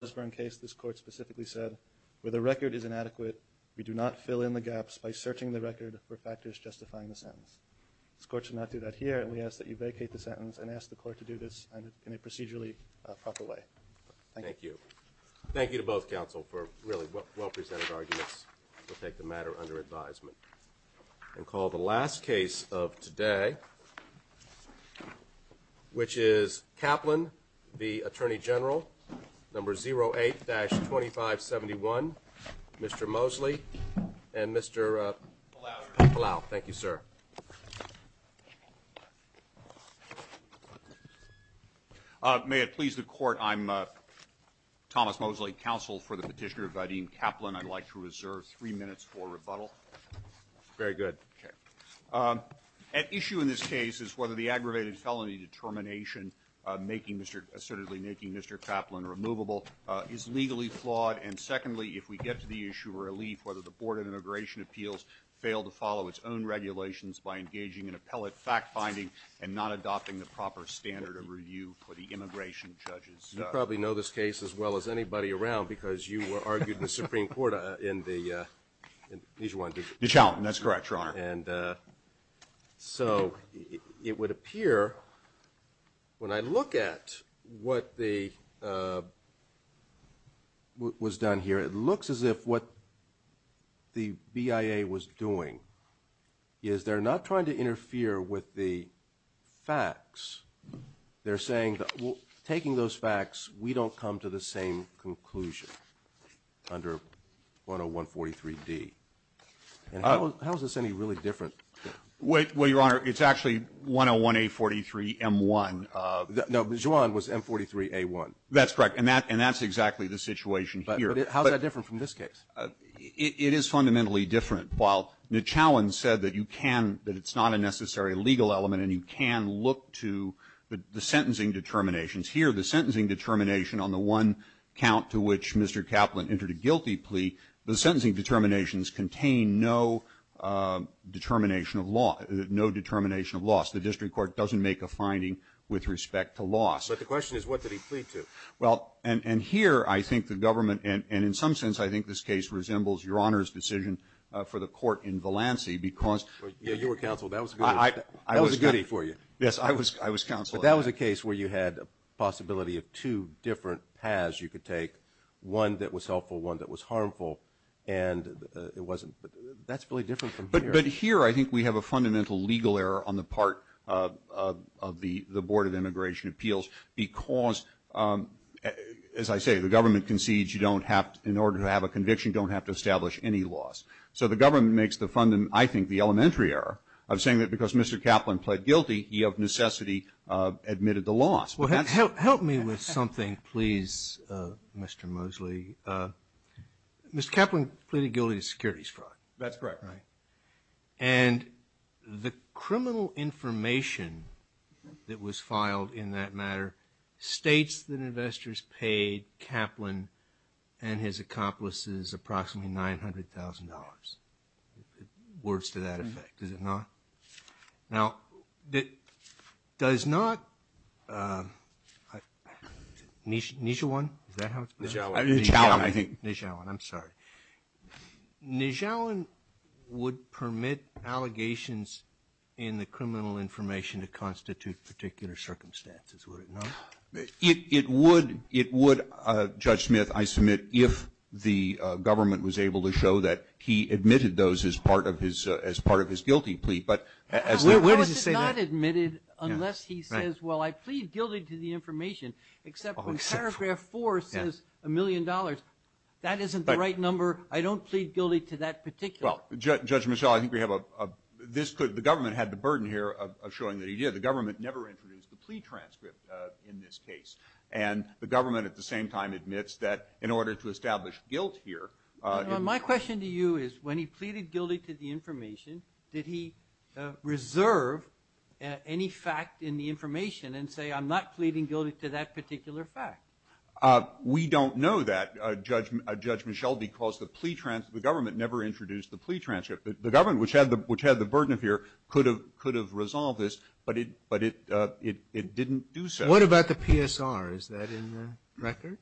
was brought to justice for a case this court specifically said, where the record is inadequate, we do not fill in the gaps by searching the record for factors justifying the sentence. This court should not do that here and we ask that you vacate the sentence and ask the court to do this in a procedurally proper way. Thank you. Thank you to both counsel for really well presented arguments to take the matter under advisement. And call the last case of today, which is Attorney General number 08-2571 Mr. Mosley and Mr. Palau. Thank you, sir. May it please the court, I'm Thomas Mosley, counsel for the petitioner Vadim Kaplun. I'd like to reserve three minutes for rebuttal. Very good. At issue in this case is whether the aggravated felony determination assertedly making Mr. Kaplun removable is legally flawed. And secondly, if we get to the issue of relief, whether the Board of Immigration Appeals fail to follow its own regulations by engaging in appellate fact-finding and not adopting the proper standard of review for the immigration judges. You probably know this case as well as anybody around because you argued in the Supreme Court in the Ditch Houghton. That's correct, Your Honor. And so it would appear when I look at what the was done here, it looks as if what the BIA was doing is they're not trying to interfere with the facts. They're saying that taking those facts, we don't come to the same conclusion under 101-43D. And how is this any really different? Well, Your Honor, it's actually 101-A43-M1. No, but Juan was M43-A1. That's correct. And that's exactly the situation here. But how is that different from this case? It is fundamentally different. While Nachowan said that you can, that it's not a necessary legal element and you can look to the sentencing determinations, here the sentencing determination on the one count to which Mr. Kaplun entered a guilty plea, the sentencing determinations contain no determination of loss. The district court doesn't make a finding with respect to loss. But the question is what did he plead to? Well, and here I think the government, and in some sense I think this case resembles Your Honor's decision for the court in Valancey because Yeah, you were counsel. That was a goodie. That was a goodie for you. Yes, I was counsel. But that was a case where you had a possibility of two different paths you could take, one that was helpful, one that was harmful, and it wasn't. But that's really different from here. But here I think we have a fundamental legal error on the part of the Board of Immigration Appeals because, as I say, the government concedes you don't have, in order to have a conviction, don't have to establish any loss. So the government makes the, I think, the elementary error of saying that because Mr. Kaplun pled guilty, he of necessity admitted the loss. Well, help me with something, please, Mr. Mosley. Mr. Kaplun pleaded guilty to securities fraud. That's correct. Right. And the criminal information that was filed in that matter states that investors paid Kaplun and his accomplices approximately $900,000, words to that effect. Is it not? Now, does not Nijawan, is that how it's pronounced? Nijawan, I think. Nijawan, I'm sorry. Nijawan would permit allegations in the criminal information to constitute particular circumstances, would it not? It would, Judge Smith, I submit, if the government was able to show that he admitted those as part of his guilty plea. How is it not admitted unless he says, well, I plead guilty to the information, except when paragraph four says a million dollars. That isn't the right number. I don't plead guilty to that particular. Well, Judge Michel, I think we have a, this could, the government had the burden here of showing that he did. The government never introduced the plea transcript in this case. And the government at the same time admits that in order to establish guilt here. My question to you is, when he pleaded guilty to the information, did he reserve any fact in the information and say, I'm not pleading guilty to that particular fact? We don't know that, Judge Michel, because the plea transcript, the government never introduced the plea transcript. The government, which had the burden of here, could have resolved this, but it didn't do so. What about the PSR? Is that in the record?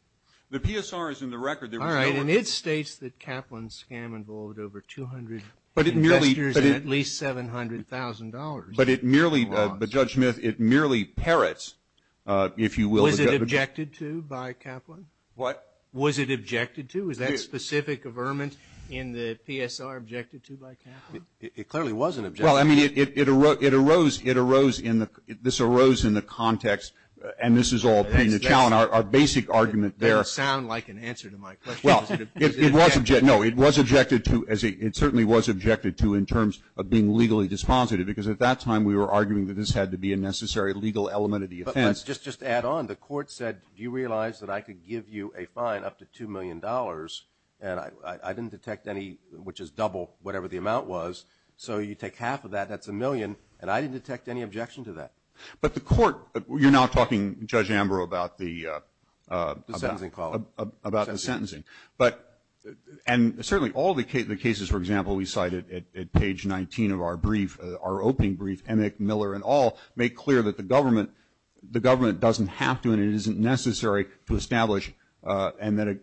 The PSR is in the record. All right. And it states that Kaplan's scam involved over 200 investors and at least $700,000. But it merely, but Judge Smith, it merely parrots, if you will. Was it objected to by Kaplan? What? Was it objected to? Was that specific averment in the PSR objected to by Kaplan? It clearly wasn't objected to. Well, I mean, it arose, it arose, it arose in the, this arose in the context, and this is all pretty much our basic argument there. That doesn't sound like an answer to my question. Well, it was objected, no, it was objected to, it certainly was objected to in terms of being legally dispositive, because at that time we were arguing that this had to be a necessary legal element of the offense. But let's just add on. The court said, do you realize that I could give you a fine up to $2 million, and I didn't detect any, which is double whatever the amount was, so you take half of that, that's a million, and I didn't detect any objection to that. But the court, you're now talking, Judge Ambrose, about the. The sentencing column. About the sentencing. Sentencing. But, and certainly all the cases, for example, we cited at page 19 of our brief, our opening brief, Emick, Miller, and all, make clear that the government, the government doesn't have to, and it isn't necessary to establish, and then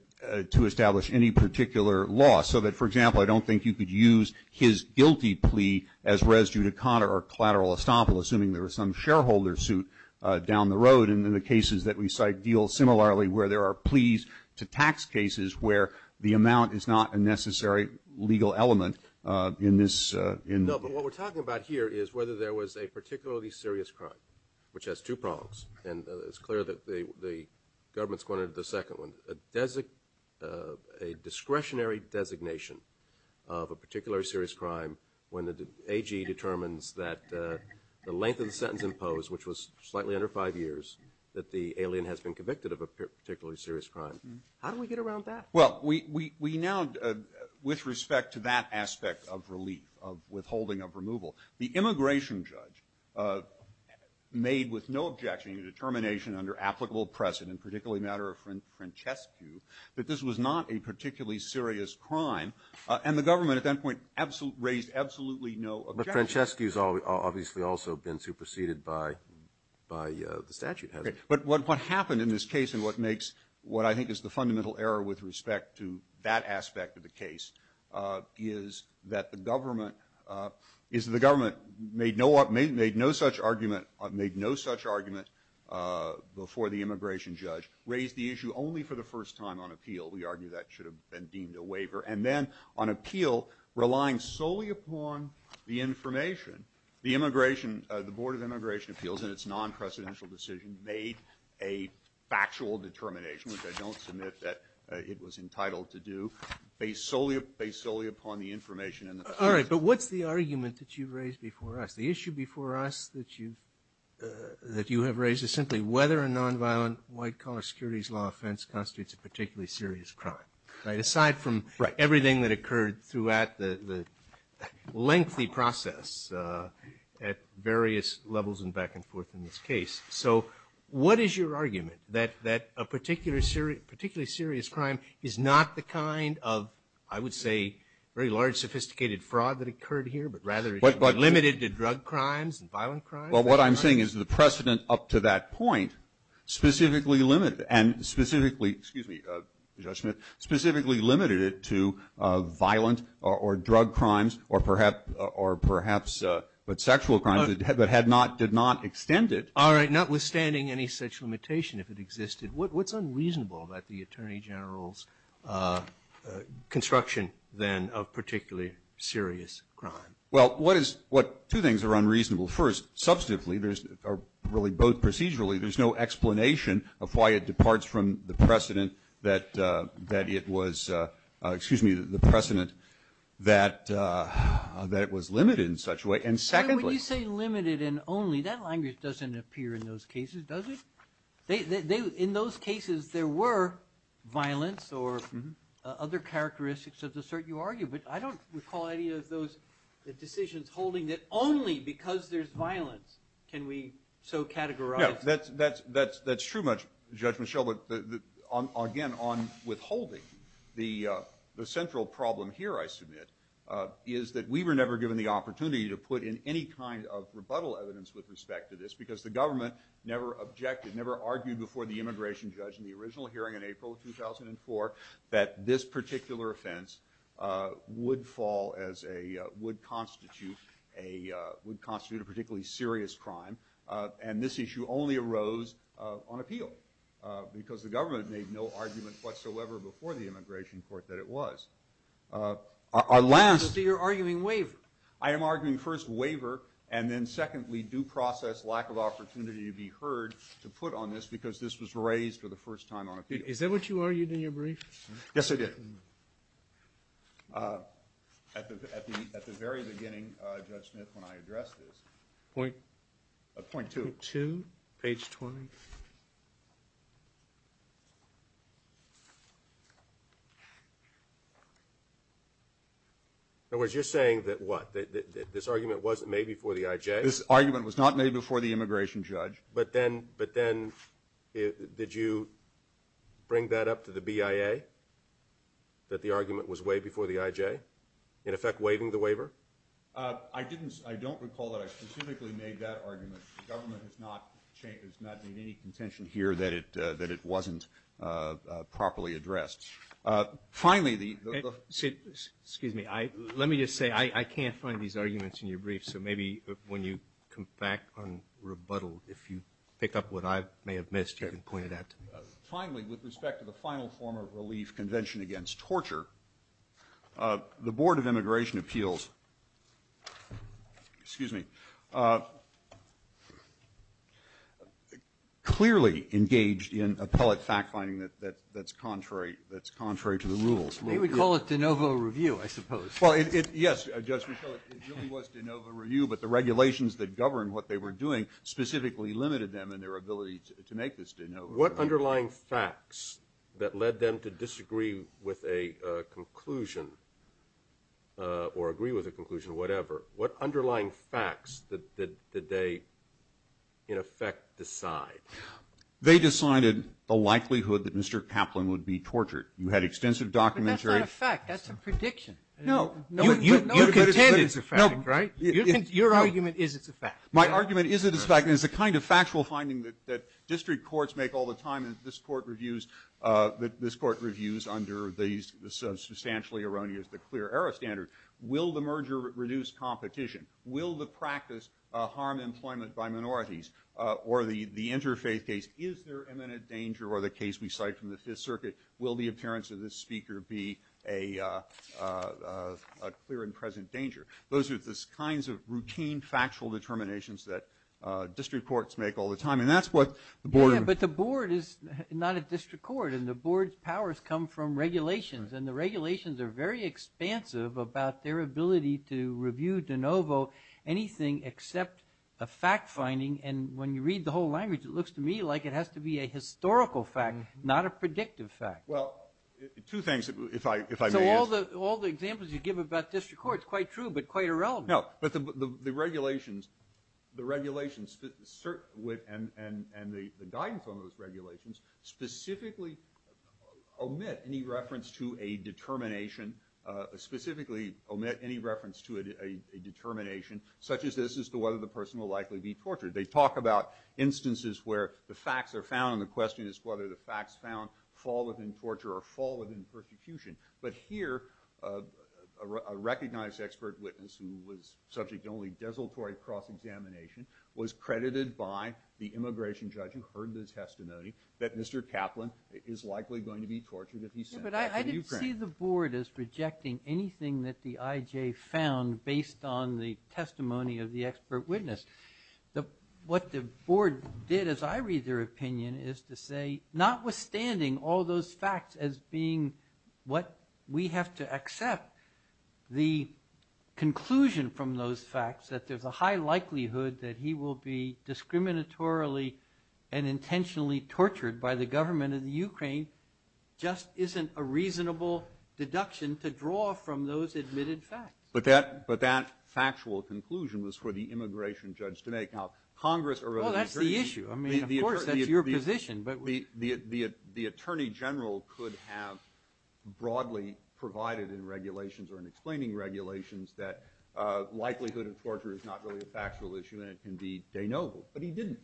to establish any particular law. So that, for example, I don't think you could use his guilty plea as res judicata or collateral estoppel, assuming there was some shareholder suit down the road. And in the cases that we cite deal similarly where there are pleas to tax cases where the amount is not a necessary legal element in this. No, but what we're talking about here is whether there was a particularly serious crime, which has two prongs. And it's clear that the government's going into the second one. A discretionary designation of a particularly serious crime when the AG determines that the length of the sentence imposed, which was slightly under five years, that the alien has been convicted of a particularly serious crime. How do we get around that? Well, we now, with respect to that aspect of relief, of withholding of removal, the immigration judge made with no objection a determination under applicable precedent, particularly a matter of Francescu, that this was not a particularly serious crime. And the government at that point raised absolutely no objection. But Francescu's obviously also been superseded by the statute, hasn't he? But what happened in this case and what makes what I think is the fundamental error with respect to that aspect of the case is that the government made no such argument before the immigration judge, raised the issue only for the first time on appeal. We argue that should have been deemed a waiver. And then on appeal, relying solely upon the information, the board of immigration appeals and its non-precedential decision made a factual determination, which I don't submit that it was entitled to do, based solely upon the information. All right, but what's the argument that you've raised before us? The issue before us that you have raised is simply whether a nonviolent white collar securities law offense constitutes a particularly serious crime. Right, aside from everything that occurred throughout the lengthy process at various levels and back and forth in this case. So what is your argument, that a particularly serious crime is not the kind of, I would say, very large sophisticated fraud that occurred here, but rather it's limited to drug crimes and violent crimes? Well, what I'm saying is the precedent up to that point specifically limited and specifically, excuse me, Judge Smith, specifically limited it to violent or drug crimes or perhaps, but sexual crimes that had not, did not extend it. All right, notwithstanding any such limitation if it existed, what's unreasonable about the Attorney General's construction, then, of particularly serious crime? Well, two things are unreasonable. First, substantively, or really both procedurally, there's no explanation of why it departs from the precedent that it was, excuse me, the precedent that it was limited in such a way. And secondly. When you say limited and only, that language doesn't appear in those cases, does it? In those cases there were violence or other characteristics of the sort you argue, but I don't recall any of those decisions holding that only because there's violence can we so categorize. No, that's true, Judge Michelle, but again, on withholding, the central problem here I submit is that we were never given the opportunity to put in any kind of rebuttal evidence with respect to this because the government never objected, never argued before the immigration judge in the original hearing in April of 2004 that this particular offense would fall as a, would constitute a particularly serious crime. And this issue only arose on appeal because the government made no argument whatsoever before the immigration court that it was. I see you're arguing waiver. I am arguing first waiver and then secondly due process, lack of opportunity to be heard to put on this because this was raised for the first time on appeal. Is that what you argued in your brief? Yes, I did. At the very beginning, Judge Smith, when I addressed this. Point two, page 20. In other words, you're saying that what, that this argument wasn't made before the IJ? This argument was not made before the immigration judge. But then did you bring that up to the BIA, that the argument was waived before the IJ, in effect waiving the waiver? I didn't. I don't recall that I specifically made that argument. The government has not changed. There's not been any contention here that it, that it wasn't properly addressed. Finally, the. Excuse me. Let me just say, I can't find these arguments in your brief. So maybe when you come back on rebuttal, if you pick up what I may have missed, you can point it out to me. Finally, with respect to the final form of relief convention against torture, the Board of Immigration Appeals, excuse me, clearly engaged in appellate fact finding that's contrary, that's contrary to the rules. They would call it de novo review, I suppose. Well, yes, Judge Michel, it really was de novo review, but the regulations that govern what they were doing specifically limited them in their ability to make this de novo review. What underlying facts that led them to disagree with a conclusion or agree with a conclusion, whatever, what underlying facts did they in effect decide? They decided the likelihood that Mr. Kaplan would be tortured. You had extensive documentary. But that's not a fact. That's a prediction. No. You contend it's a fact, right? Your argument is it's a fact. My argument is it's a fact, and it's the kind of factual finding that district courts make all the time, and this court reviews under the substantially erroneous, the clear error standard. Will the merger reduce competition? Will the practice harm employment by minorities? Or the interfaith case, is there imminent danger, or the case we cite from the Fifth Circuit, will the appearance of this speaker be a clear and present danger? Those are the kinds of routine, factual determinations that district courts make all the time. And that's what the board. Yeah, but the board is not a district court, and the board's powers come from regulations, and the regulations are very expansive about their ability to review de novo anything except a fact finding. And when you read the whole language, it looks to me like it has to be a historical fact, not a predictive fact. Well, two things, if I may. So all the examples you give about district courts, they're both quite true but quite irrelevant. No, but the regulations and the guidance on those regulations specifically omit any reference to a determination, specifically omit any reference to a determination such as this as to whether the person will likely be tortured. They talk about instances where the facts are found, and the question is whether the facts found fall within torture or fall within persecution. But here a recognized expert witness who was subject only to desultory cross-examination was credited by the immigration judge who heard the testimony that Mr. Kaplan is likely going to be tortured if he's sent back to Ukraine. Yeah, but I didn't see the board as rejecting anything that the IJ found based on the testimony of the expert witness. What the board did as I read their opinion is to say, notwithstanding all those facts as being what we have to accept, the conclusion from those facts that there's a high likelihood that he will be discriminatorily and intentionally tortured by the government of the Ukraine just isn't a reasonable deduction to draw from those admitted facts. But that factual conclusion was for the immigration judge to make. Now, Congress or the attorney. Well, that's the issue. I mean, of course, that's your position. But the attorney general could have broadly provided in regulations or in explaining regulations that likelihood of torture is not really a factual issue and it can be de novo. But he didn't.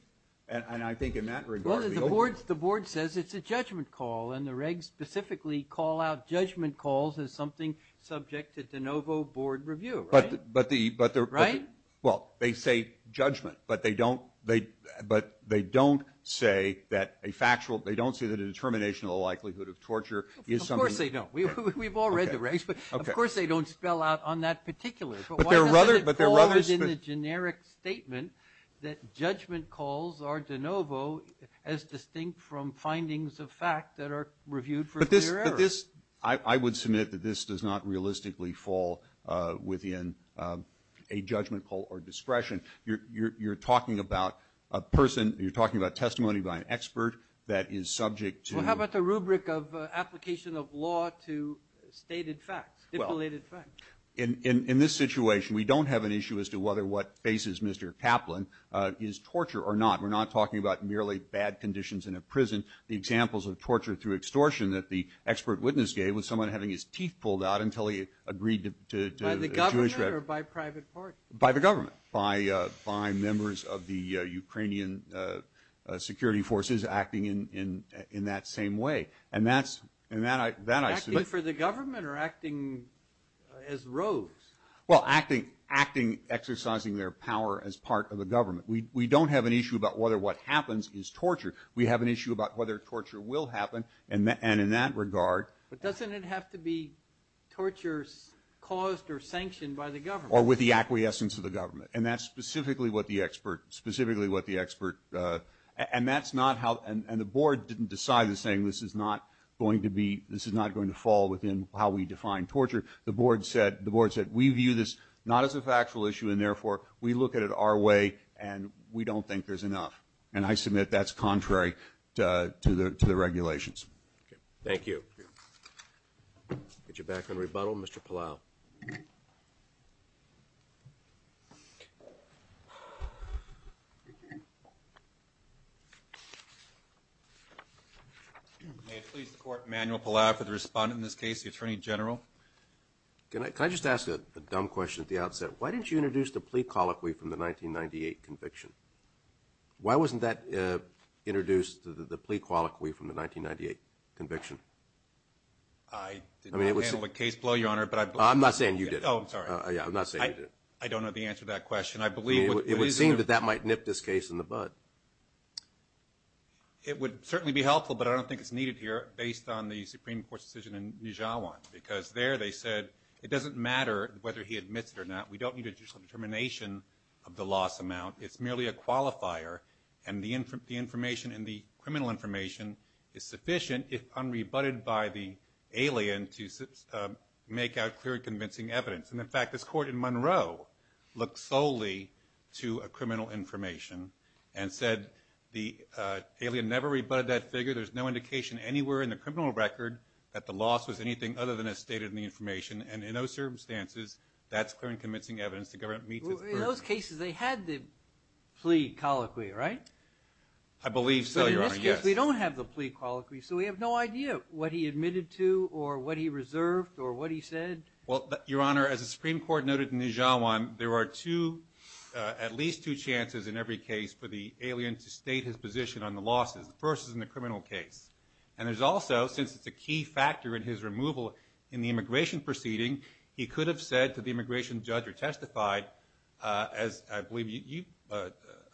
And I think in that regard. Well, the board says it's a judgment call, and the regs specifically call out judgment calls as something subject to de novo board review, right? Right? Well, they say judgment, but they don't say that a factual, they don't say that a determination of the likelihood of torture is something. Of course they don't. We've all read the regs, but of course they don't spell out on that particular. But why doesn't it fall within the generic statement that judgment calls are de novo as distinct from findings of fact that are reviewed for clear error? I would submit that this does not realistically fall within a judgment call or discretion. You're talking about a person, you're talking about testimony by an expert that is subject to. Well, how about the rubric of application of law to stated facts, stipulated facts? In this situation, we don't have an issue as to whether what faces Mr. Kaplan is torture or not. We're not talking about merely bad conditions in a prison. The examples of torture through extortion that the expert witness gave was someone having his teeth pulled out until he agreed to Jewish. By the government or by private party? By the government. By members of the Ukrainian security forces acting in that same way. And that's, and that I. Acting for the government or acting as rogues? Well, acting, exercising their power as part of the government. We don't have an issue about whether what happens is torture. We have an issue about whether torture will happen. And in that regard. But doesn't it have to be torture caused or sanctioned by the government? Or with the acquiescence of the government. And that's specifically what the expert, specifically what the expert, and that's not how, and the board didn't decide the same. This is not going to be, this is not going to fall within how we define torture. The board said, the board said, we view this not as a factual issue and, therefore, we look at it our way and we don't think there's enough. And I submit that's contrary to the regulations. Thank you. Get you back on rebuttal, Mr. Palau. May it please the Court, Emanuel Palau for the respondent in this case, the Attorney General. Can I just ask a dumb question at the outset? Why didn't you introduce the plea colloquy from the 1998 conviction? Why wasn't that introduced, the plea colloquy from the 1998 conviction? I did not handle the case below, Your Honor. I'm not saying you did. Oh, I'm sorry. I'm not saying you did. I don't know the answer to that question. It would seem that that might nip this case in the bud. It would certainly be helpful, but I don't think it's needed here, based on the Supreme Court's decision in Nijhawan. Because there they said it doesn't matter whether he admits it or not. We don't need a judicial determination of the loss amount. It's merely a qualifier. And the information and the criminal information is sufficient, if unrebutted by the alien, to make out clear and convincing evidence. And, in fact, this Court in Monroe looked solely to a criminal information and said the alien never rebutted that figure. There's no indication anywhere in the criminal record that the loss was anything other than as stated in the information. And in those circumstances, that's clear and convincing evidence the government meets its purpose. In those cases, they had the plea colloquy, right? I believe so, Your Honor, yes. But in this case, we don't have the plea colloquy, so we have no idea what he admitted to or what he reserved or what he said. Well, Your Honor, as the Supreme Court noted in Nijhawan, there are at least two chances in every case for the alien to state his position on the losses. The first is in the criminal case. And there's also, since it's a key factor in his removal in the immigration proceeding, he could have said to the immigration judge or testified, as I believe you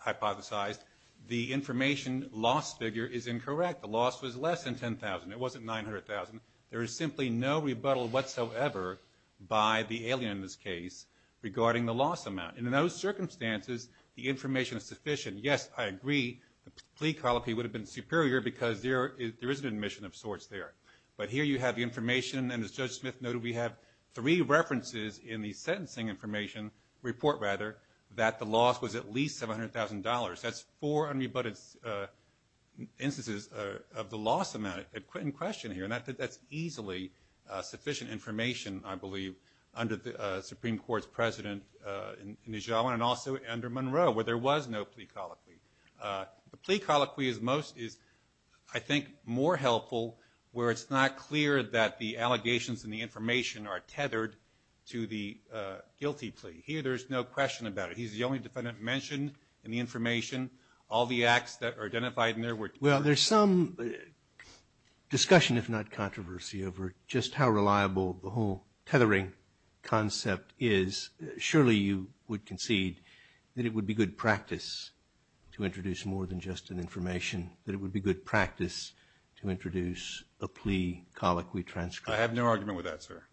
hypothesized, the information loss figure is incorrect. The loss was less than $10,000. It wasn't $900,000. There is simply no rebuttal whatsoever by the alien in this case regarding the loss amount. And in those circumstances, the information is sufficient. Yes, I agree. The plea colloquy would have been superior because there is an admission of sorts there. But here you have the information, and as Judge Smith noted, we have three references in the sentencing information report, rather, that the loss was at least $700,000. That's four unrebutted instances of the loss amount in question here. And that's easily sufficient information, I believe, under the Supreme Court's president in Nijhawan and also under Monroe, where there was no plea colloquy. The plea colloquy is, I think, more helpful where it's not clear that the allegations and the information are tethered to the guilty plea. Here there's no question about it. He's the only defendant mentioned in the information. All the acts that are identified in there were tethered. Well, there's some discussion, if not controversy, over just how reliable the whole tethering concept is. Surely you would concede that it would be good practice to introduce more than just an information, that it would be good practice to introduce a plea colloquy transcript. I have no argument with that, sir.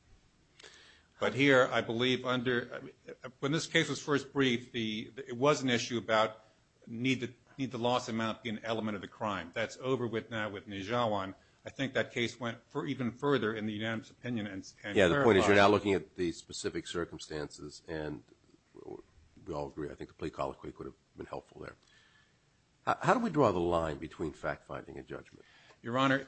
But here I believe under ñ when this case was first briefed, it was an issue about need the loss amount be an element of the crime. That's over with now with Nijhawan. I think that case went even further in the unanimous opinion. Yeah, the point is you're now looking at the specific circumstances, and we all agree. I think the plea colloquy could have been helpful there. How do we draw the line between fact-finding and judgment? Your Honor,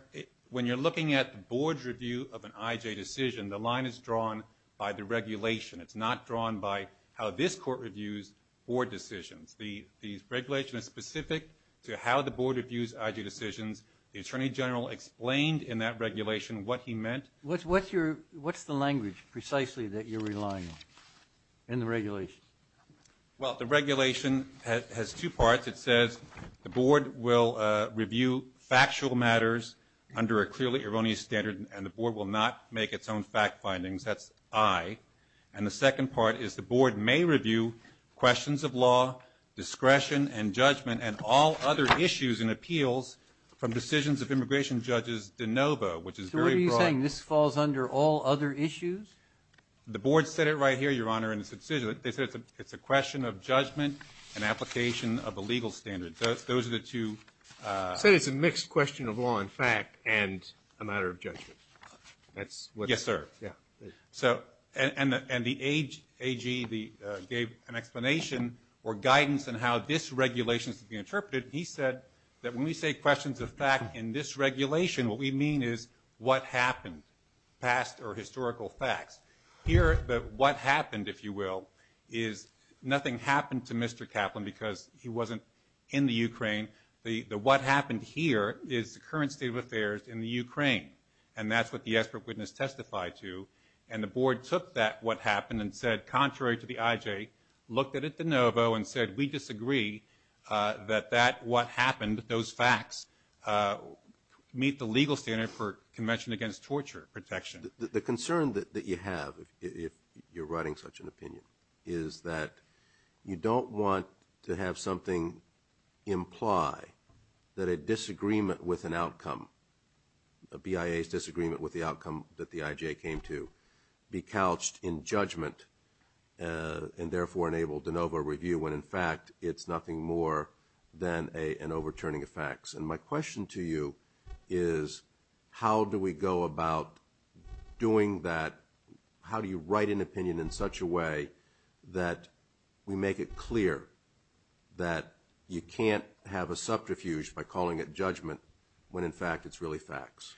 when you're looking at the board's review of an IJ decision, the line is drawn by the regulation. It's not drawn by how this court reviews board decisions. The regulation is specific to how the board reviews IJ decisions. The Attorney General explained in that regulation what he meant. What's the language precisely that you're relying on in the regulation? Well, the regulation has two parts. It says the board will review factual matters under a clearly erroneous standard, and the board will not make its own fact findings. That's I. And the second part is the board may review questions of law, discretion, and judgment, and all other issues and appeals from decisions of immigration judges de novo, which is very broad. You're saying this falls under all other issues? The board said it right here, Your Honor, in its decision. They said it's a question of judgment and application of a legal standard. Those are the two. It said it's a mixed question of law and fact and a matter of judgment. Yes, sir. And the AG gave an explanation or guidance on how this regulation is to be interpreted. He said that when we say questions of fact in this regulation, what we mean is what happened, past or historical facts. Here, the what happened, if you will, is nothing happened to Mr. Kaplan because he wasn't in the Ukraine. The what happened here is the current state of affairs in the Ukraine, and that's what the expert witness testified to. And the board took that what happened and said, contrary to the IJ, looked at it de novo and said we disagree that that what happened, those facts, meet the legal standard for convention against torture protection. The concern that you have, if you're writing such an opinion, is that you don't want to have something imply that a disagreement with an outcome, a BIA's disagreement with the outcome that the IJ came to, be couched in judgment and therefore enabled de novo review when, in fact, it's nothing more than an overturning of facts. And my question to you is how do we go about doing that? How do you write an opinion in such a way that we make it clear that you can't have a subterfuge by calling it judgment when, in fact, it's really facts?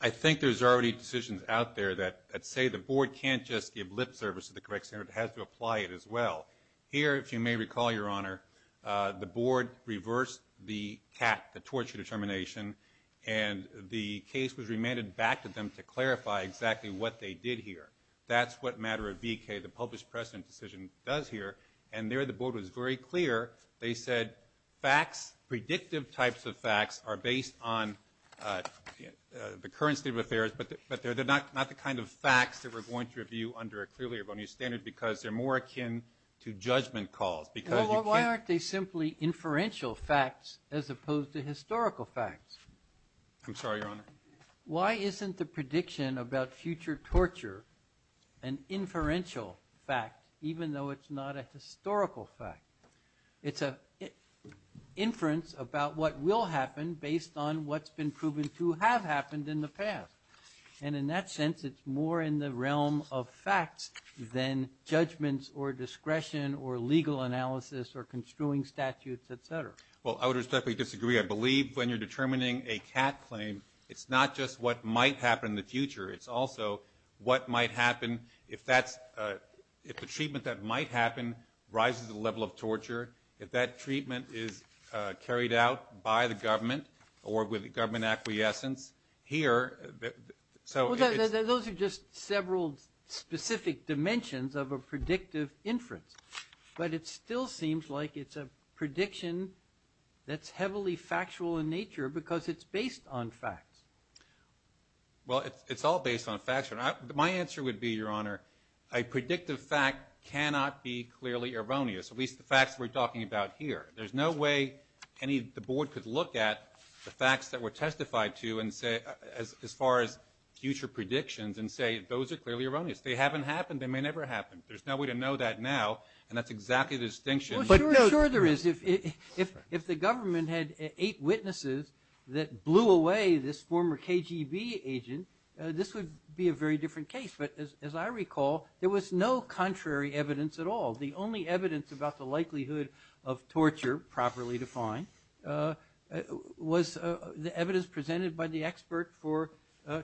I think there's already decisions out there that say the board can't just give lip service to the correct standard. It has to apply it as well. Here, if you may recall, Your Honor, the board reversed the CAT, the torture determination, and the case was remanded back to them to clarify exactly what they did here. That's what matter of BK, the published precedent decision, does here. And there the board was very clear. They said facts, predictive types of facts, are based on the current state of affairs, but they're not the kind of facts that we're going to review under a clearlier bonus standard because they're more akin to judgment calls. Well, why aren't they simply inferential facts as opposed to historical facts? I'm sorry, Your Honor? Why isn't the prediction about future torture an inferential fact, even though it's not a historical fact? It's an inference about what will happen based on what's been proven to have happened in the past. And in that sense, it's more in the realm of facts than judgments or discretion or legal analysis or construing statutes, et cetera. Well, I would respectfully disagree. I believe when you're determining a cat claim, it's not just what might happen in the future. It's also what might happen if the treatment that might happen rises to the level of torture, if that treatment is carried out by the government or with government acquiescence. Here, so it's – Well, those are just several specific dimensions of a predictive inference. But it still seems like it's a prediction that's heavily factual in nature because it's based on facts. Well, it's all based on facts. My answer would be, Your Honor, a predictive fact cannot be clearly erroneous, at least the facts we're talking about here. There's no way the Board could look at the facts that were testified to as far as future predictions and say those are clearly erroneous. They haven't happened. They may never happen. There's no way to know that now, and that's exactly the distinction. Well, sure there is. If the government had eight witnesses that blew away this former KGB agent, this would be a very different case. But as I recall, there was no contrary evidence at all. The only evidence about the likelihood of torture, properly defined, was the evidence presented by the expert for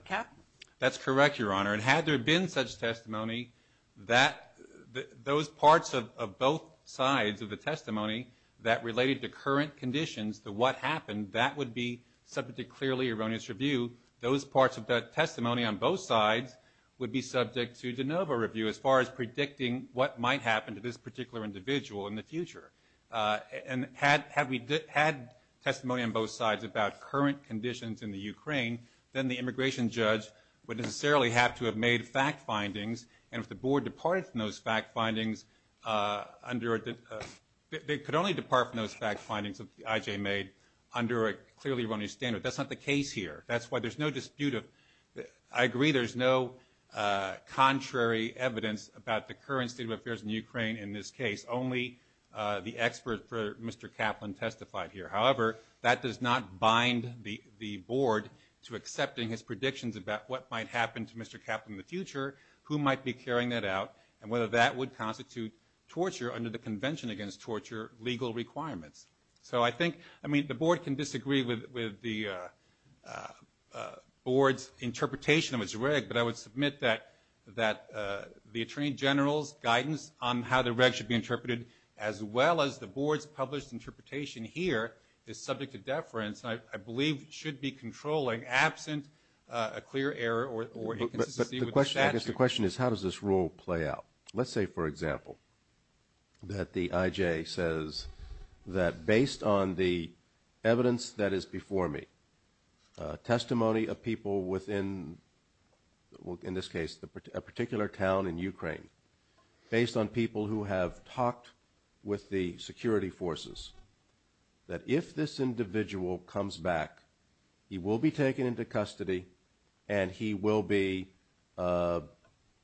cat. That's correct, Your Honor. And had there been such testimony, those parts of both sides of the testimony that related to current conditions, to what happened, that would be subject to clearly erroneous review. Those parts of the testimony on both sides would be subject to de novo review as far as predicting what might happen to this particular individual in the future. And had we had testimony on both sides about current conditions in the Ukraine, then the immigration judge would necessarily have to have made fact findings, and if the board departed from those fact findings under a – they could only depart from those fact findings that the IJ made under a clearly erroneous standard. That's not the case here. That's why there's no dispute of – I agree there's no contrary evidence about the current state of affairs in Ukraine in this case, only the expert for Mr. Kaplan testified here. However, that does not bind the board to accepting his predictions about what might happen to Mr. Kaplan in the future, who might be carrying that out, and whether that would constitute torture under the Convention Against Torture legal requirements. So I think – I mean, the board can disagree with the board's interpretation of its reg, but I would submit that the attorney general's guidance on how the reg should be interpreted, as well as the board's published interpretation here, is subject to deference, and I believe should be controlling absent a clear error or inconsistency with the statute. But the question – I guess the question is how does this rule play out? Let's say, for example, that the IJ says that based on the evidence that is before me, testimony of people within, in this case, a particular town in Ukraine, based on people who have talked with the security forces, that if this individual comes back, he will be taken into custody and he will be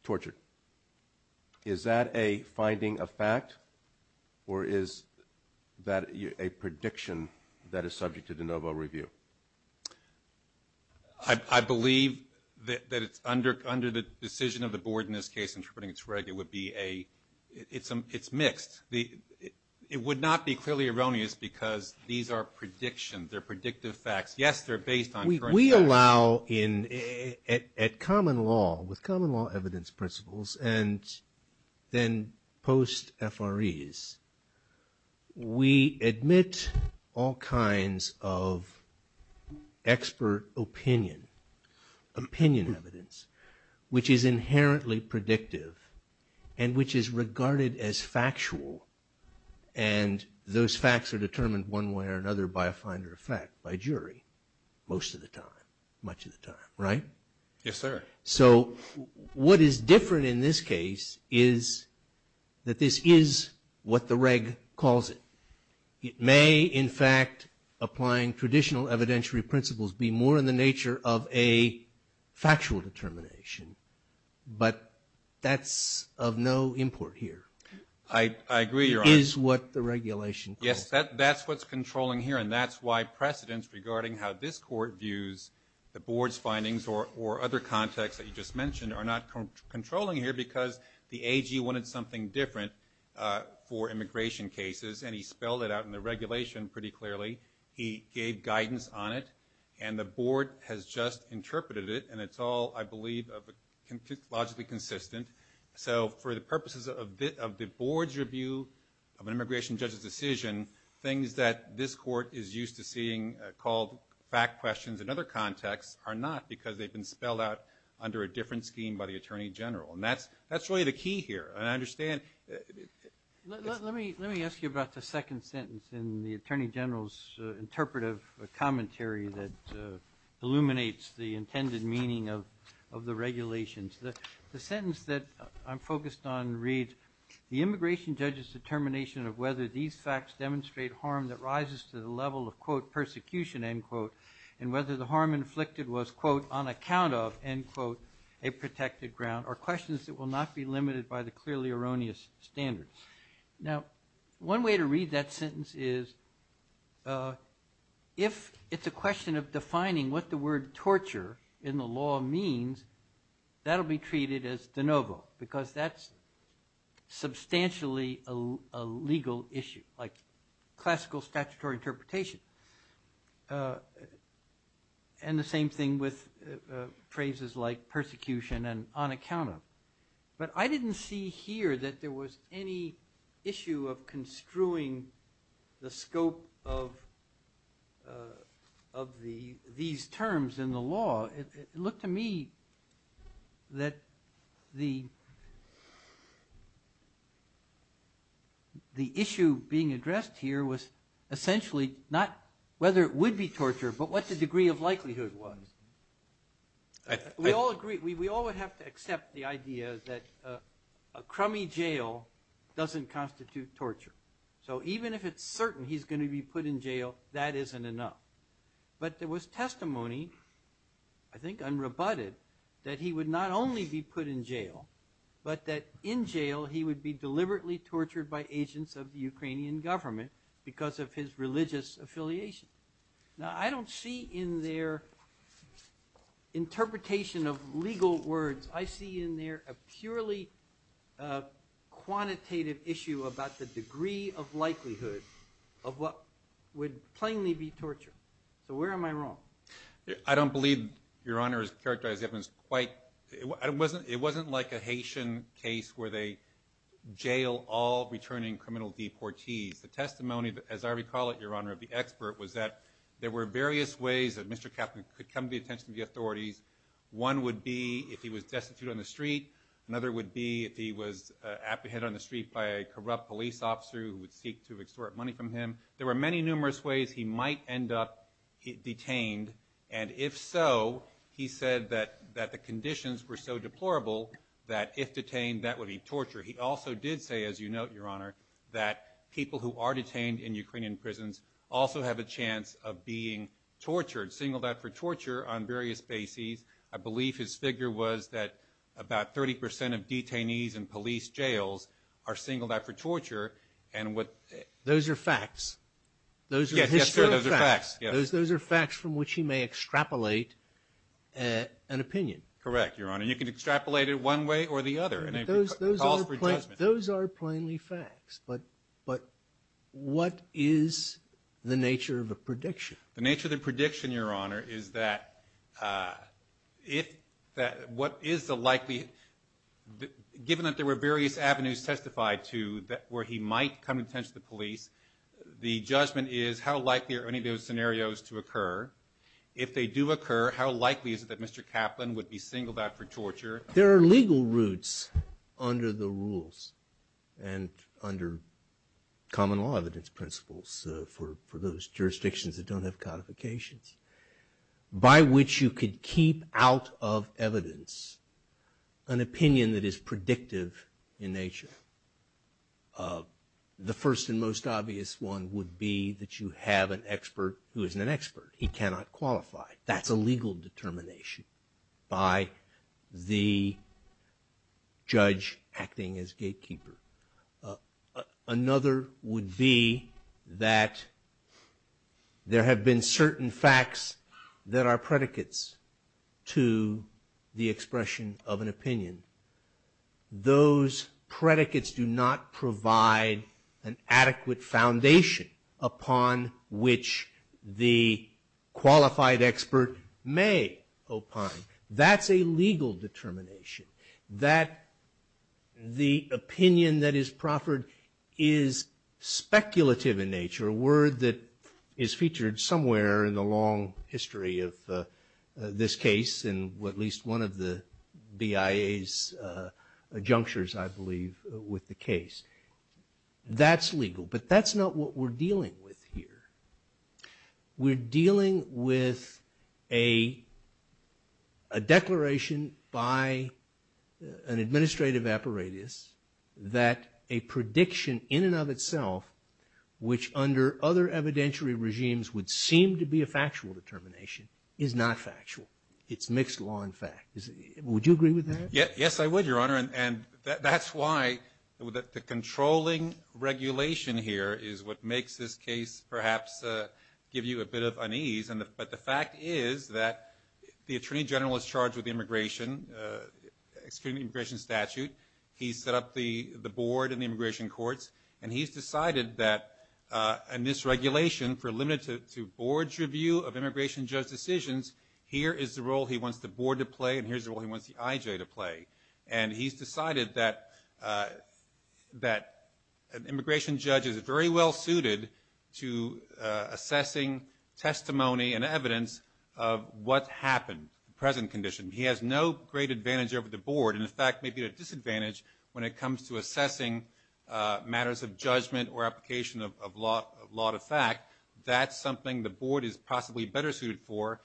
tortured. Is that a finding of fact, or is that a prediction that is subject to de novo review? I believe that it's under the decision of the board in this case, interpreting its reg, it would be a – it's mixed. It would not be clearly erroneous because these are predictions. They're predictive facts. Yes, they're based on current facts. At common law, with common law evidence principles, and then post-FREs, we admit all kinds of expert opinion, opinion evidence, which is inherently predictive and which is regarded as factual, and those facts are determined one way or another by a finder of fact, by jury, most of the time, much of the time, right? Yes, sir. So what is different in this case is that this is what the reg calls it. It may, in fact, applying traditional evidentiary principles, be more in the nature of a factual determination, but that's of no import here. I agree, Your Honor. It is what the regulation calls it. Yes, that's what's controlling here, and that's why precedents regarding how this court views the board's findings or other contexts that you just mentioned are not controlling here because the AG wanted something different for immigration cases, and he spelled it out in the regulation pretty clearly. He gave guidance on it, and the board has just interpreted it, and it's all, I believe, logically consistent. So for the purposes of the board's review of an immigration judge's decision, things that this court is used to seeing called fact questions in other contexts are not because they've been spelled out under a different scheme by the Attorney General, and that's really the key here, and I understand. Let me ask you about the second sentence in the Attorney General's interpretive commentary that illuminates the intended meaning of the regulations. The sentence that I'm focused on reads, the immigration judge's determination of whether these facts demonstrate harm that rises to the level of, quote, persecution, end quote, and whether the harm inflicted was, quote, on account of, end quote, a protected ground are questions that will not be limited by the clearly erroneous standards. Now, one way to read that sentence is if it's a question of defining what the word torture in the law means, that'll be treated as de novo, because that's substantially a legal issue, like classical statutory interpretation, and the same thing with phrases like persecution and on account of. But I didn't see here that there was any issue of construing the scope of these terms in the law. It looked to me that the issue being addressed here was essentially not whether it would be torture, but what the degree of likelihood was. We all agree, we all would have to accept the idea that a crummy jail doesn't constitute torture. So even if it's certain he's going to be put in jail, that isn't enough. But there was testimony, I think unrebutted, that he would not only be put in jail, but that in jail he would be deliberately tortured by agents of the Ukrainian government because of his religious affiliation. Now, I don't see in their interpretation of legal words, I see in there a purely quantitative issue about the degree of likelihood of what would plainly be torture. So where am I wrong? I don't believe, Your Honor, his characterization is quite – it wasn't like a Haitian case where they jail all returning criminal deportees. The testimony, as I recall it, Your Honor, of the expert, was that there were various ways that Mr. Kaplan could come to the attention of the authorities. One would be if he was destitute on the street. Another would be if he was apprehended on the street by a corrupt police officer who would seek to extort money from him. There were many numerous ways he might end up detained, and if so, he said that the conditions were so deplorable that if detained, that would be torture. He also did say, as you note, Your Honor, that people who are detained in Ukrainian prisons also have a chance of being tortured, singled out for torture on various bases. I believe his figure was that about 30 percent of detainees in police jails are singled out for torture. Those are facts. Yes, sir, those are facts. Those are facts from which he may extrapolate an opinion. Correct, Your Honor. You can extrapolate it one way or the other. Those are plainly facts. But what is the nature of a prediction? The nature of the prediction, Your Honor, is that what is the likelihood, given that there were various avenues testified to where he might come in touch with the police, the judgment is how likely are any of those scenarios to occur. If they do occur, how likely is it that Mr. Kaplan would be singled out for torture? There are legal roots under the rules and under common law evidence principles for those jurisdictions that don't have codifications, by which you could keep out of evidence an opinion that is predictive in nature. The first and most obvious one would be that you have an expert who isn't an expert. He cannot qualify. That's a legal determination by the judge acting as gatekeeper. Another would be that there have been certain facts that are predicates to the expression of an opinion. Those predicates do not provide an adequate foundation upon which the qualified expert may opine. That's a legal determination. That the opinion that is proffered is speculative in nature, a word that is featured somewhere in the long history of this case and at least one of the BIA's junctures, I believe, with the case. That's legal, but that's not what we're dealing with here. We're dealing with a declaration by an administrative apparatus that a prediction in and of itself, which under other evidentiary regimes would seem to be a factual determination, is not factual. It's mixed law and fact. Would you agree with that? Yes, I would, Your Honor. That's why the controlling regulation here is what makes this case perhaps give you a bit of unease. But the fact is that the Attorney General is charged with the immigration statute. He set up the board in the immigration courts, and he's decided that in this regulation, for limited to board's review of immigration judge decisions, here is the role he wants the board to play and here's the role he wants the IJ to play. And he's decided that an immigration judge is very well suited to assessing testimony and evidence of what happened, the present condition. He has no great advantage over the board and, in fact, may be at a disadvantage when it comes to assessing matters of judgment or application of law to fact. That's something the board is possibly better suited for.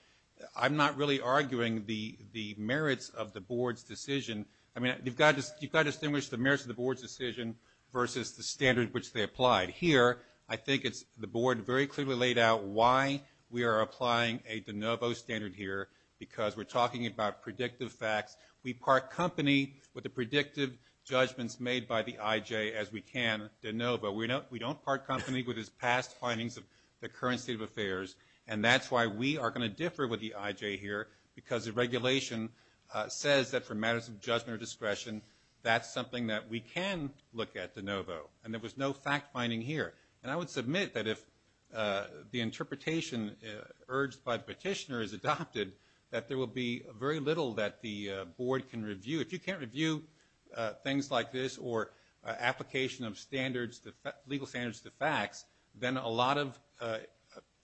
I'm not really arguing the merits of the board's decision. I mean, you've got to distinguish the merits of the board's decision versus the standard which they applied. Here, I think it's the board very clearly laid out why we are applying a de novo standard here, because we're talking about predictive facts. We part company with the predictive judgments made by the IJ as we can de novo. We don't part company with his past findings of the current state of affairs, and that's why we are going to differ with the IJ here, because the regulation says that for matters of judgment or discretion, that's something that we can look at de novo, and there was no fact finding here. And I would submit that if the interpretation urged by the petitioner is adopted, that there will be very little that the board can review. If you can't review things like this or application of standards, legal standards to facts, then a lot of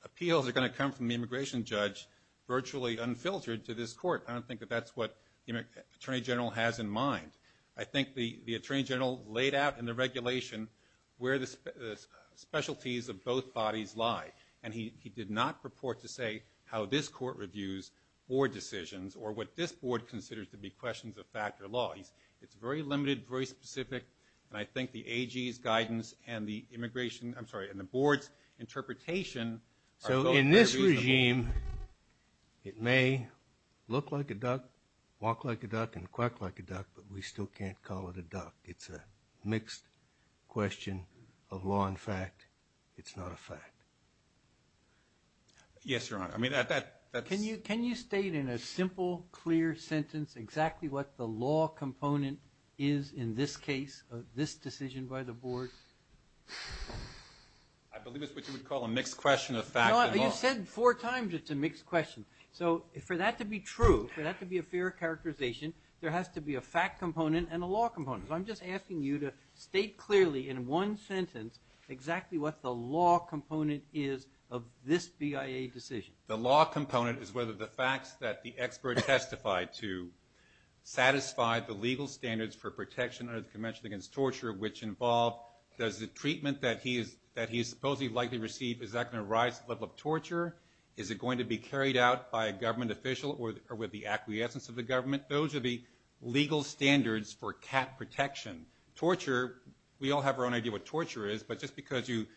appeals are going to come from the immigration judge virtually unfiltered to this court. I don't think that that's what the attorney general has in mind. I think the attorney general laid out in the regulation where the specialties of both bodies lie, and he did not purport to say how this court reviews board decisions or what this board considers to be questions of fact or law. It's very limited, very specific, and I think the AG's guidance and the immigration – I'm sorry, and the board's interpretation are both very reasonable. So in this regime, it may look like a duck, walk like a duck, and quack like a duck, but we still can't call it a duck. It's a mixed question of law and fact. It's not a fact. Yes, Your Honor. I mean, that's – Can you state in a simple, clear sentence exactly what the law component is in this case, of this decision by the board? I believe it's what you would call a mixed question of fact and law. No, you said four times it's a mixed question. So for that to be true, for that to be a fair characterization, there has to be a fact component and a law component. So I'm just asking you to state clearly in one sentence exactly what the law component is of this BIA decision. The law component is whether the facts that the expert testified to satisfy the legal standards for protection under the Convention Against Torture, which involve does the treatment that he is supposedly likely to receive, is that going to rise to the level of torture? Is it going to be carried out by a government official or with the acquiescence of the government? Those are the legal standards for cat protection. Torture, we all have our own idea what torture is, but just because you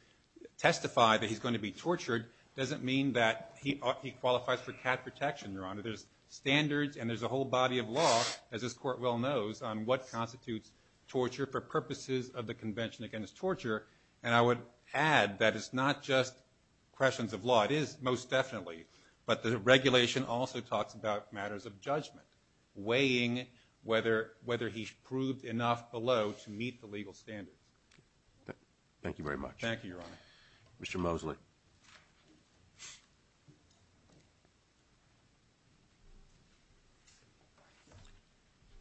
testify that he's going to be tortured doesn't mean that he qualifies for cat protection, Your Honor. So there's standards and there's a whole body of law, as this Court well knows, on what constitutes torture for purposes of the Convention Against Torture, and I would add that it's not just questions of law. It is most definitely, but the regulation also talks about matters of judgment, weighing whether he's proved enough below to meet the legal standards. Thank you very much. Thank you, Your Honor. Mr. Mosley.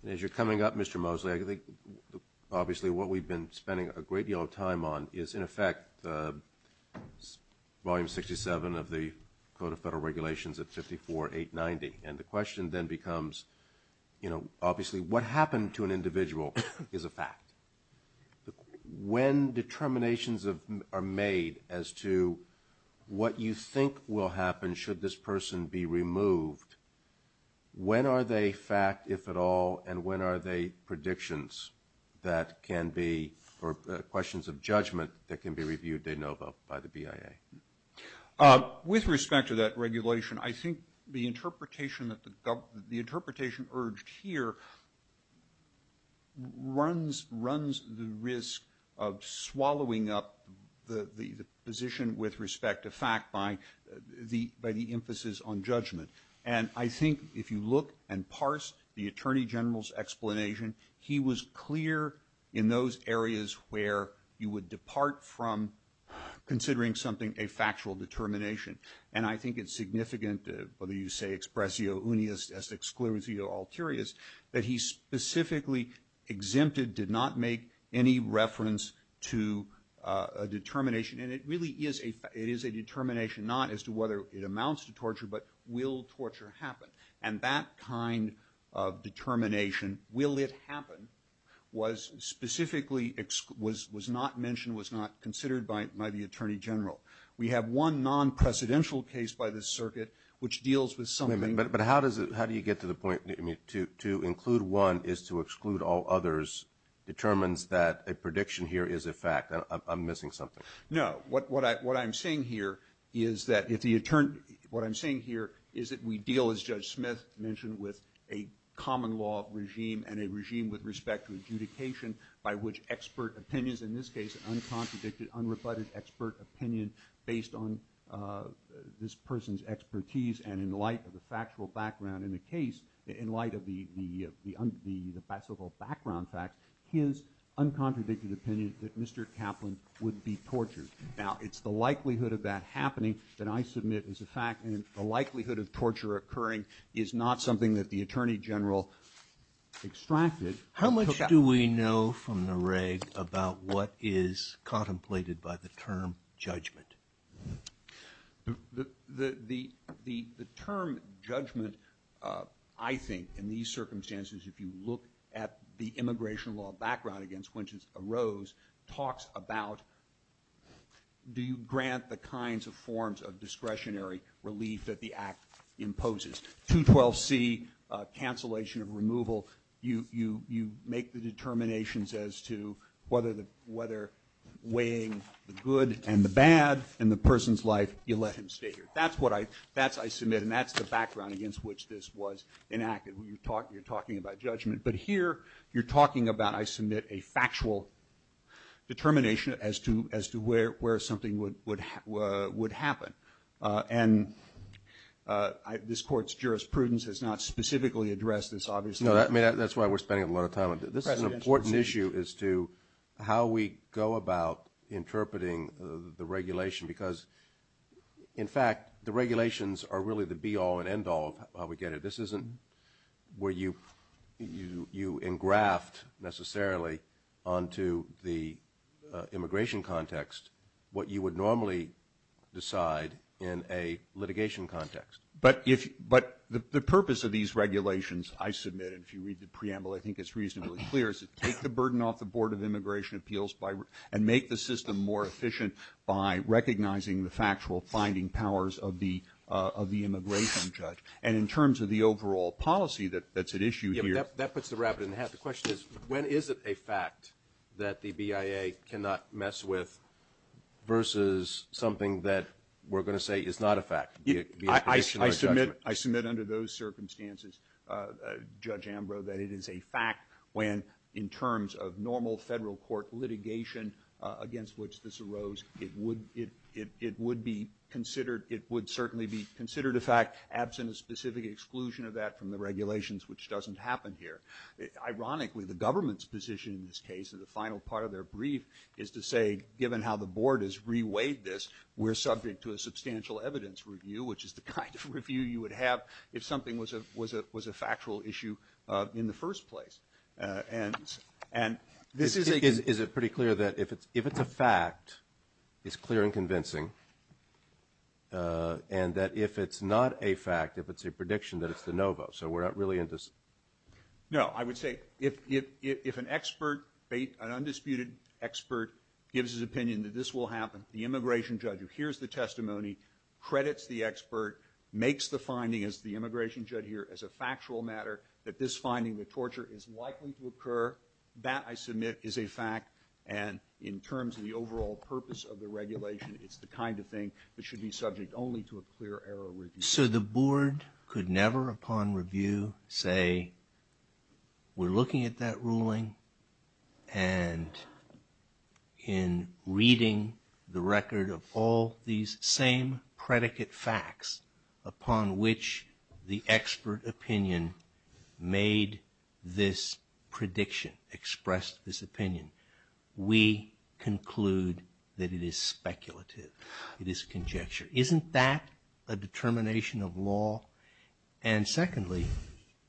As you're coming up, Mr. Mosley, I think obviously what we've been spending a great deal of time on is in effect Volume 67 of the Code of Federal Regulations at 54-890, and the question then becomes, you know, obviously what happened to an individual is a fact. When determinations are made as to what you think will happen and should this person be removed, when are they fact, if at all, and when are they predictions that can be, or questions of judgment that can be reviewed de novo by the BIA? With respect to that regulation, I think the interpretation urged here runs the risk of swallowing up the position with respect to fact by the emphasis on judgment. And I think if you look and parse the Attorney General's explanation, he was clear in those areas where you would depart from considering something a factual determination. And I think it's significant, whether you say expressio unius, es exclusio ulterior, that he specifically exempted, did not make any reference to a determination. And it really is a determination, not as to whether it amounts to torture, but will torture happen. And that kind of determination, will it happen, was specifically not mentioned, was not considered by the Attorney General. We have one non-precedential case by the circuit which deals with something. But how do you get to the point, to include one is to exclude all others determines that a prediction here is a fact. I'm missing something. No, what I'm saying here is that we deal, as Judge Smith mentioned, with a common law regime and a regime with respect to adjudication by which expert opinions, in this case, uncontradicted, unrebutted expert opinion based on this person's expertise and in light of the factual background in the case, in light of the so-called background facts, his uncontradicted opinion that Mr. Kaplan would be tortured. Now it's the likelihood of that happening that I submit is a fact and the likelihood of torture occurring is not something that the Attorney General extracted. How much do we know from the reg about what is contemplated by the term judgment? The term judgment, I think, in these circumstances, if you look at the immigration law background against which it arose, talks about do you grant the kinds of forms of discretionary relief that the Act imposes. 212C, cancellation of removal, you make the determinations as to whether weighing the good and the bad in the person's life, you let him stay here. That's what I submit and that's the background against which this was enacted. You're talking about judgment. But here you're talking about I submit a factual determination as to where something would happen. And this Court's jurisprudence has not specifically addressed this, obviously. No, that's why we're spending a lot of time on it. This is an important issue as to how we go about interpreting the regulation because, in fact, the regulations are really the be-all and end-all of how we get it. This isn't where you engraft necessarily onto the immigration context what you would normally decide in a litigation context. But the purpose of these regulations, I submit, and if you read the preamble, I think it's reasonably clear, is to take the burden off the Board of Immigration Appeals and make the system more efficient by recognizing the factual finding powers of the immigration judge. And in terms of the overall policy that's at issue here. That puts the rabbit in the hat. The question is when is it a fact that the BIA cannot mess with versus something that we're going to say is not a fact? I submit under those circumstances, Judge Ambrose, that it is a fact when in terms of normal federal court litigation against which this arose, it would certainly be considered a fact, absent a specific exclusion of that from the regulations, which doesn't happen here. Ironically, the government's position in this case, in the final part of their brief, is to say, given how the Board has reweighed this, we're subject to a substantial evidence review, which is the kind of review you would have if something was a factual issue in the first place. And this is a... Is it pretty clear that if it's a fact, it's clear and convincing, and that if it's not a fact, if it's a prediction, that it's the no vote? So we're not really in dis... No, I would say if an expert, an undisputed expert, gives his opinion that this will happen, the immigration judge who hears the testimony, credits the expert, makes the finding as the immigration judge here, as a factual matter, that this finding, the torture, is likely to occur, that, I submit, is a fact. And in terms of the overall purpose of the regulation, it's the kind of thing that should be subject only to a clear error review. So the Board could never, upon review, say, we're looking at that ruling, and in reading the record of all these same predicate facts, upon which the expert opinion made this prediction, expressed this opinion, we conclude that it is speculative. It is conjecture. Isn't that a determination of law? And secondly,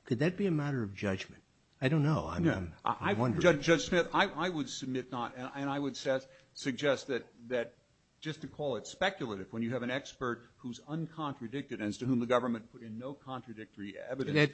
could that be a matter of judgment? I don't know. I'm wondering. Judge Smith, I would submit not... And I would suggest that just to call it speculative, when you have an expert who's uncontradicted, and to whom the government put in no contradictory evidence...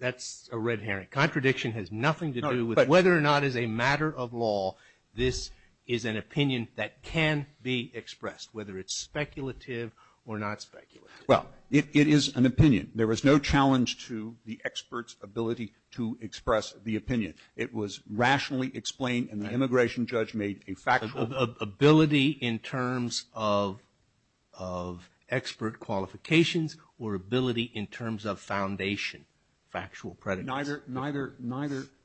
That's a red herring. Contradiction has nothing to do with whether or not, as a matter of law, this is an opinion that can be expressed, whether it's speculative or not speculative. Well, it is an opinion. There was no challenge to the expert's ability to express the opinion. It was rationally explained, and the immigration judge made a factual... It was ability in terms of expert qualifications, or ability in terms of foundation, factual predicates.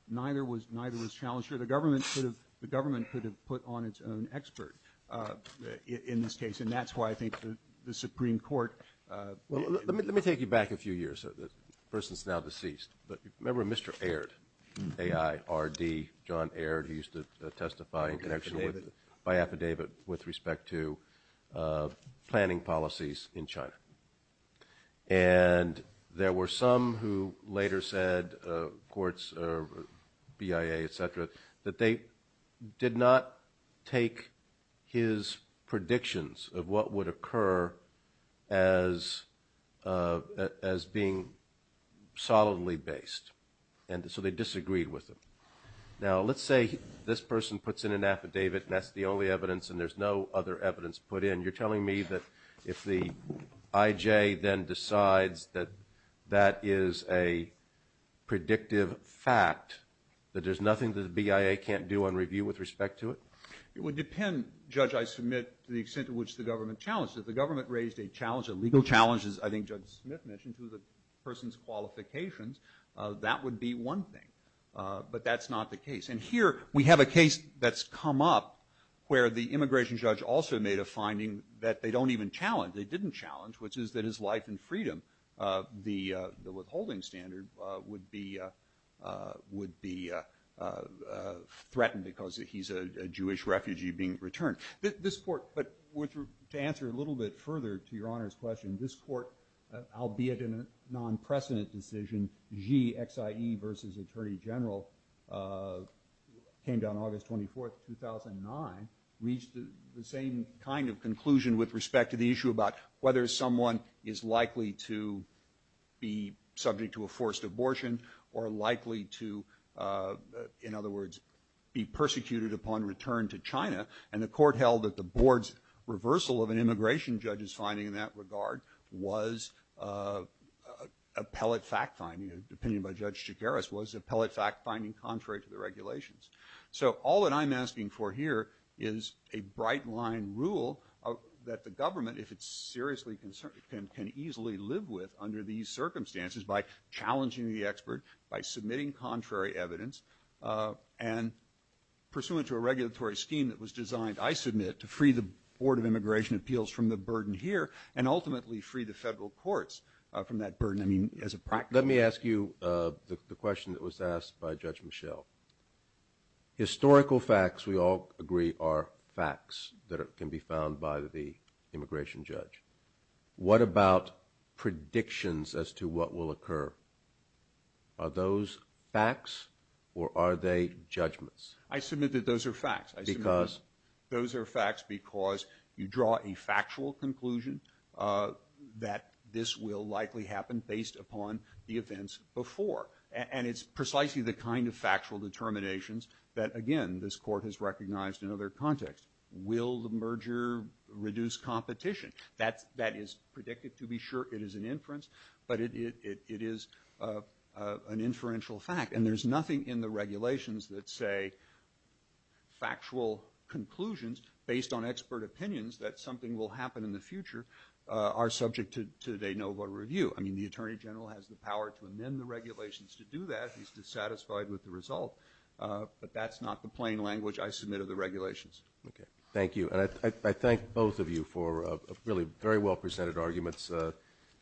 Neither was challenged. The government could have put on its own expert in this case, and that's why I think the Supreme Court... Let me take you back a few years. The person's now deceased. Remember Mr. Aird, A-I-R-D, John Aird, who used to testify in connection with... by affidavit with respect to planning policies in China. And there were some who later said, courts, BIA, et cetera, that they did not take his predictions of what would occur as being solidly based, and so they disagreed with him. Now, let's say this person puts in an affidavit, and that's the only evidence and there's no other evidence put in. You're telling me that if the IJ then decides that that is a predictive fact, that there's nothing that the BIA can't do on review with respect to it? It would depend, Judge, I submit, to the extent to which the government challenged it. If the government raised a challenge, a legal challenge, as I think Judge Smith mentioned, to the person's qualifications, that would be one thing. But that's not the case. And here we have a case that's come up where the immigration judge also made a finding that they don't even challenge, they didn't challenge, which is that his life and freedom, the withholding standard, would be threatened because he's a Jewish refugee being returned. This court, but to answer a little bit further to Your Honor's question, this court, albeit in a non-precedent decision, Xi, X-I-E versus Attorney General, came down August 24th, 2009, reached the same kind of conclusion with respect to the issue about whether someone is likely to be subject to a forced abortion or likely to, in other words, be persecuted upon return to China. And the court held that the board's reversal of an immigration judge's finding in that regard was a pellet fact finding, an opinion by Judge Chigueras, was a pellet fact finding contrary to the regulations. So all that I'm asking for here is a bright-line rule that the government, if it's seriously concerned, can easily live with under these circumstances by challenging the expert, by submitting contrary evidence, and pursuant to a regulatory scheme that was designed, I submit, to free the Board of Immigration Appeals from the burden here and ultimately free the federal courts from that burden, I mean, as a practice. Let me ask you the question that was asked by Judge Michel. Historical facts, we all agree, are facts that can be found by the immigration judge. What about predictions as to what will occur? Are those facts or are they judgments? I submit that those are facts. Because? Those are facts because you draw a factual conclusion that this will likely happen based upon the events before. And it's precisely the kind of factual determinations that, again, this court has recognized in other contexts. Will the merger reduce competition? That is predicted to be sure. It is an inference. But it is an inferential fact. And there's nothing in the regulations that say factual conclusions based on expert opinions that something will happen in the future are subject to de novo review. I mean, the Attorney General has the power to amend the regulations to do that. He's dissatisfied with the result. But that's not the plain language I submit of the regulations. Okay. Thank you. And I thank both of you for really very well presented arguments.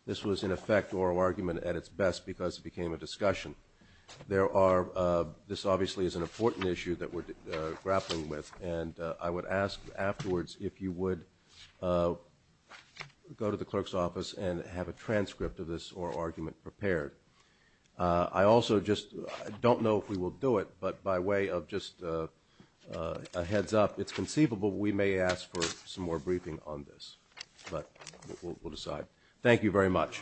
This was, in effect, oral argument at its best because it became a discussion. There are this obviously is an important issue that we're grappling with, and I would ask afterwards if you would go to the clerk's office and have a transcript of this oral argument prepared. I also just don't know if we will do it, but by way of just a heads up, it's conceivable we may ask for some more briefing on this. But we'll decide. Thank you very much.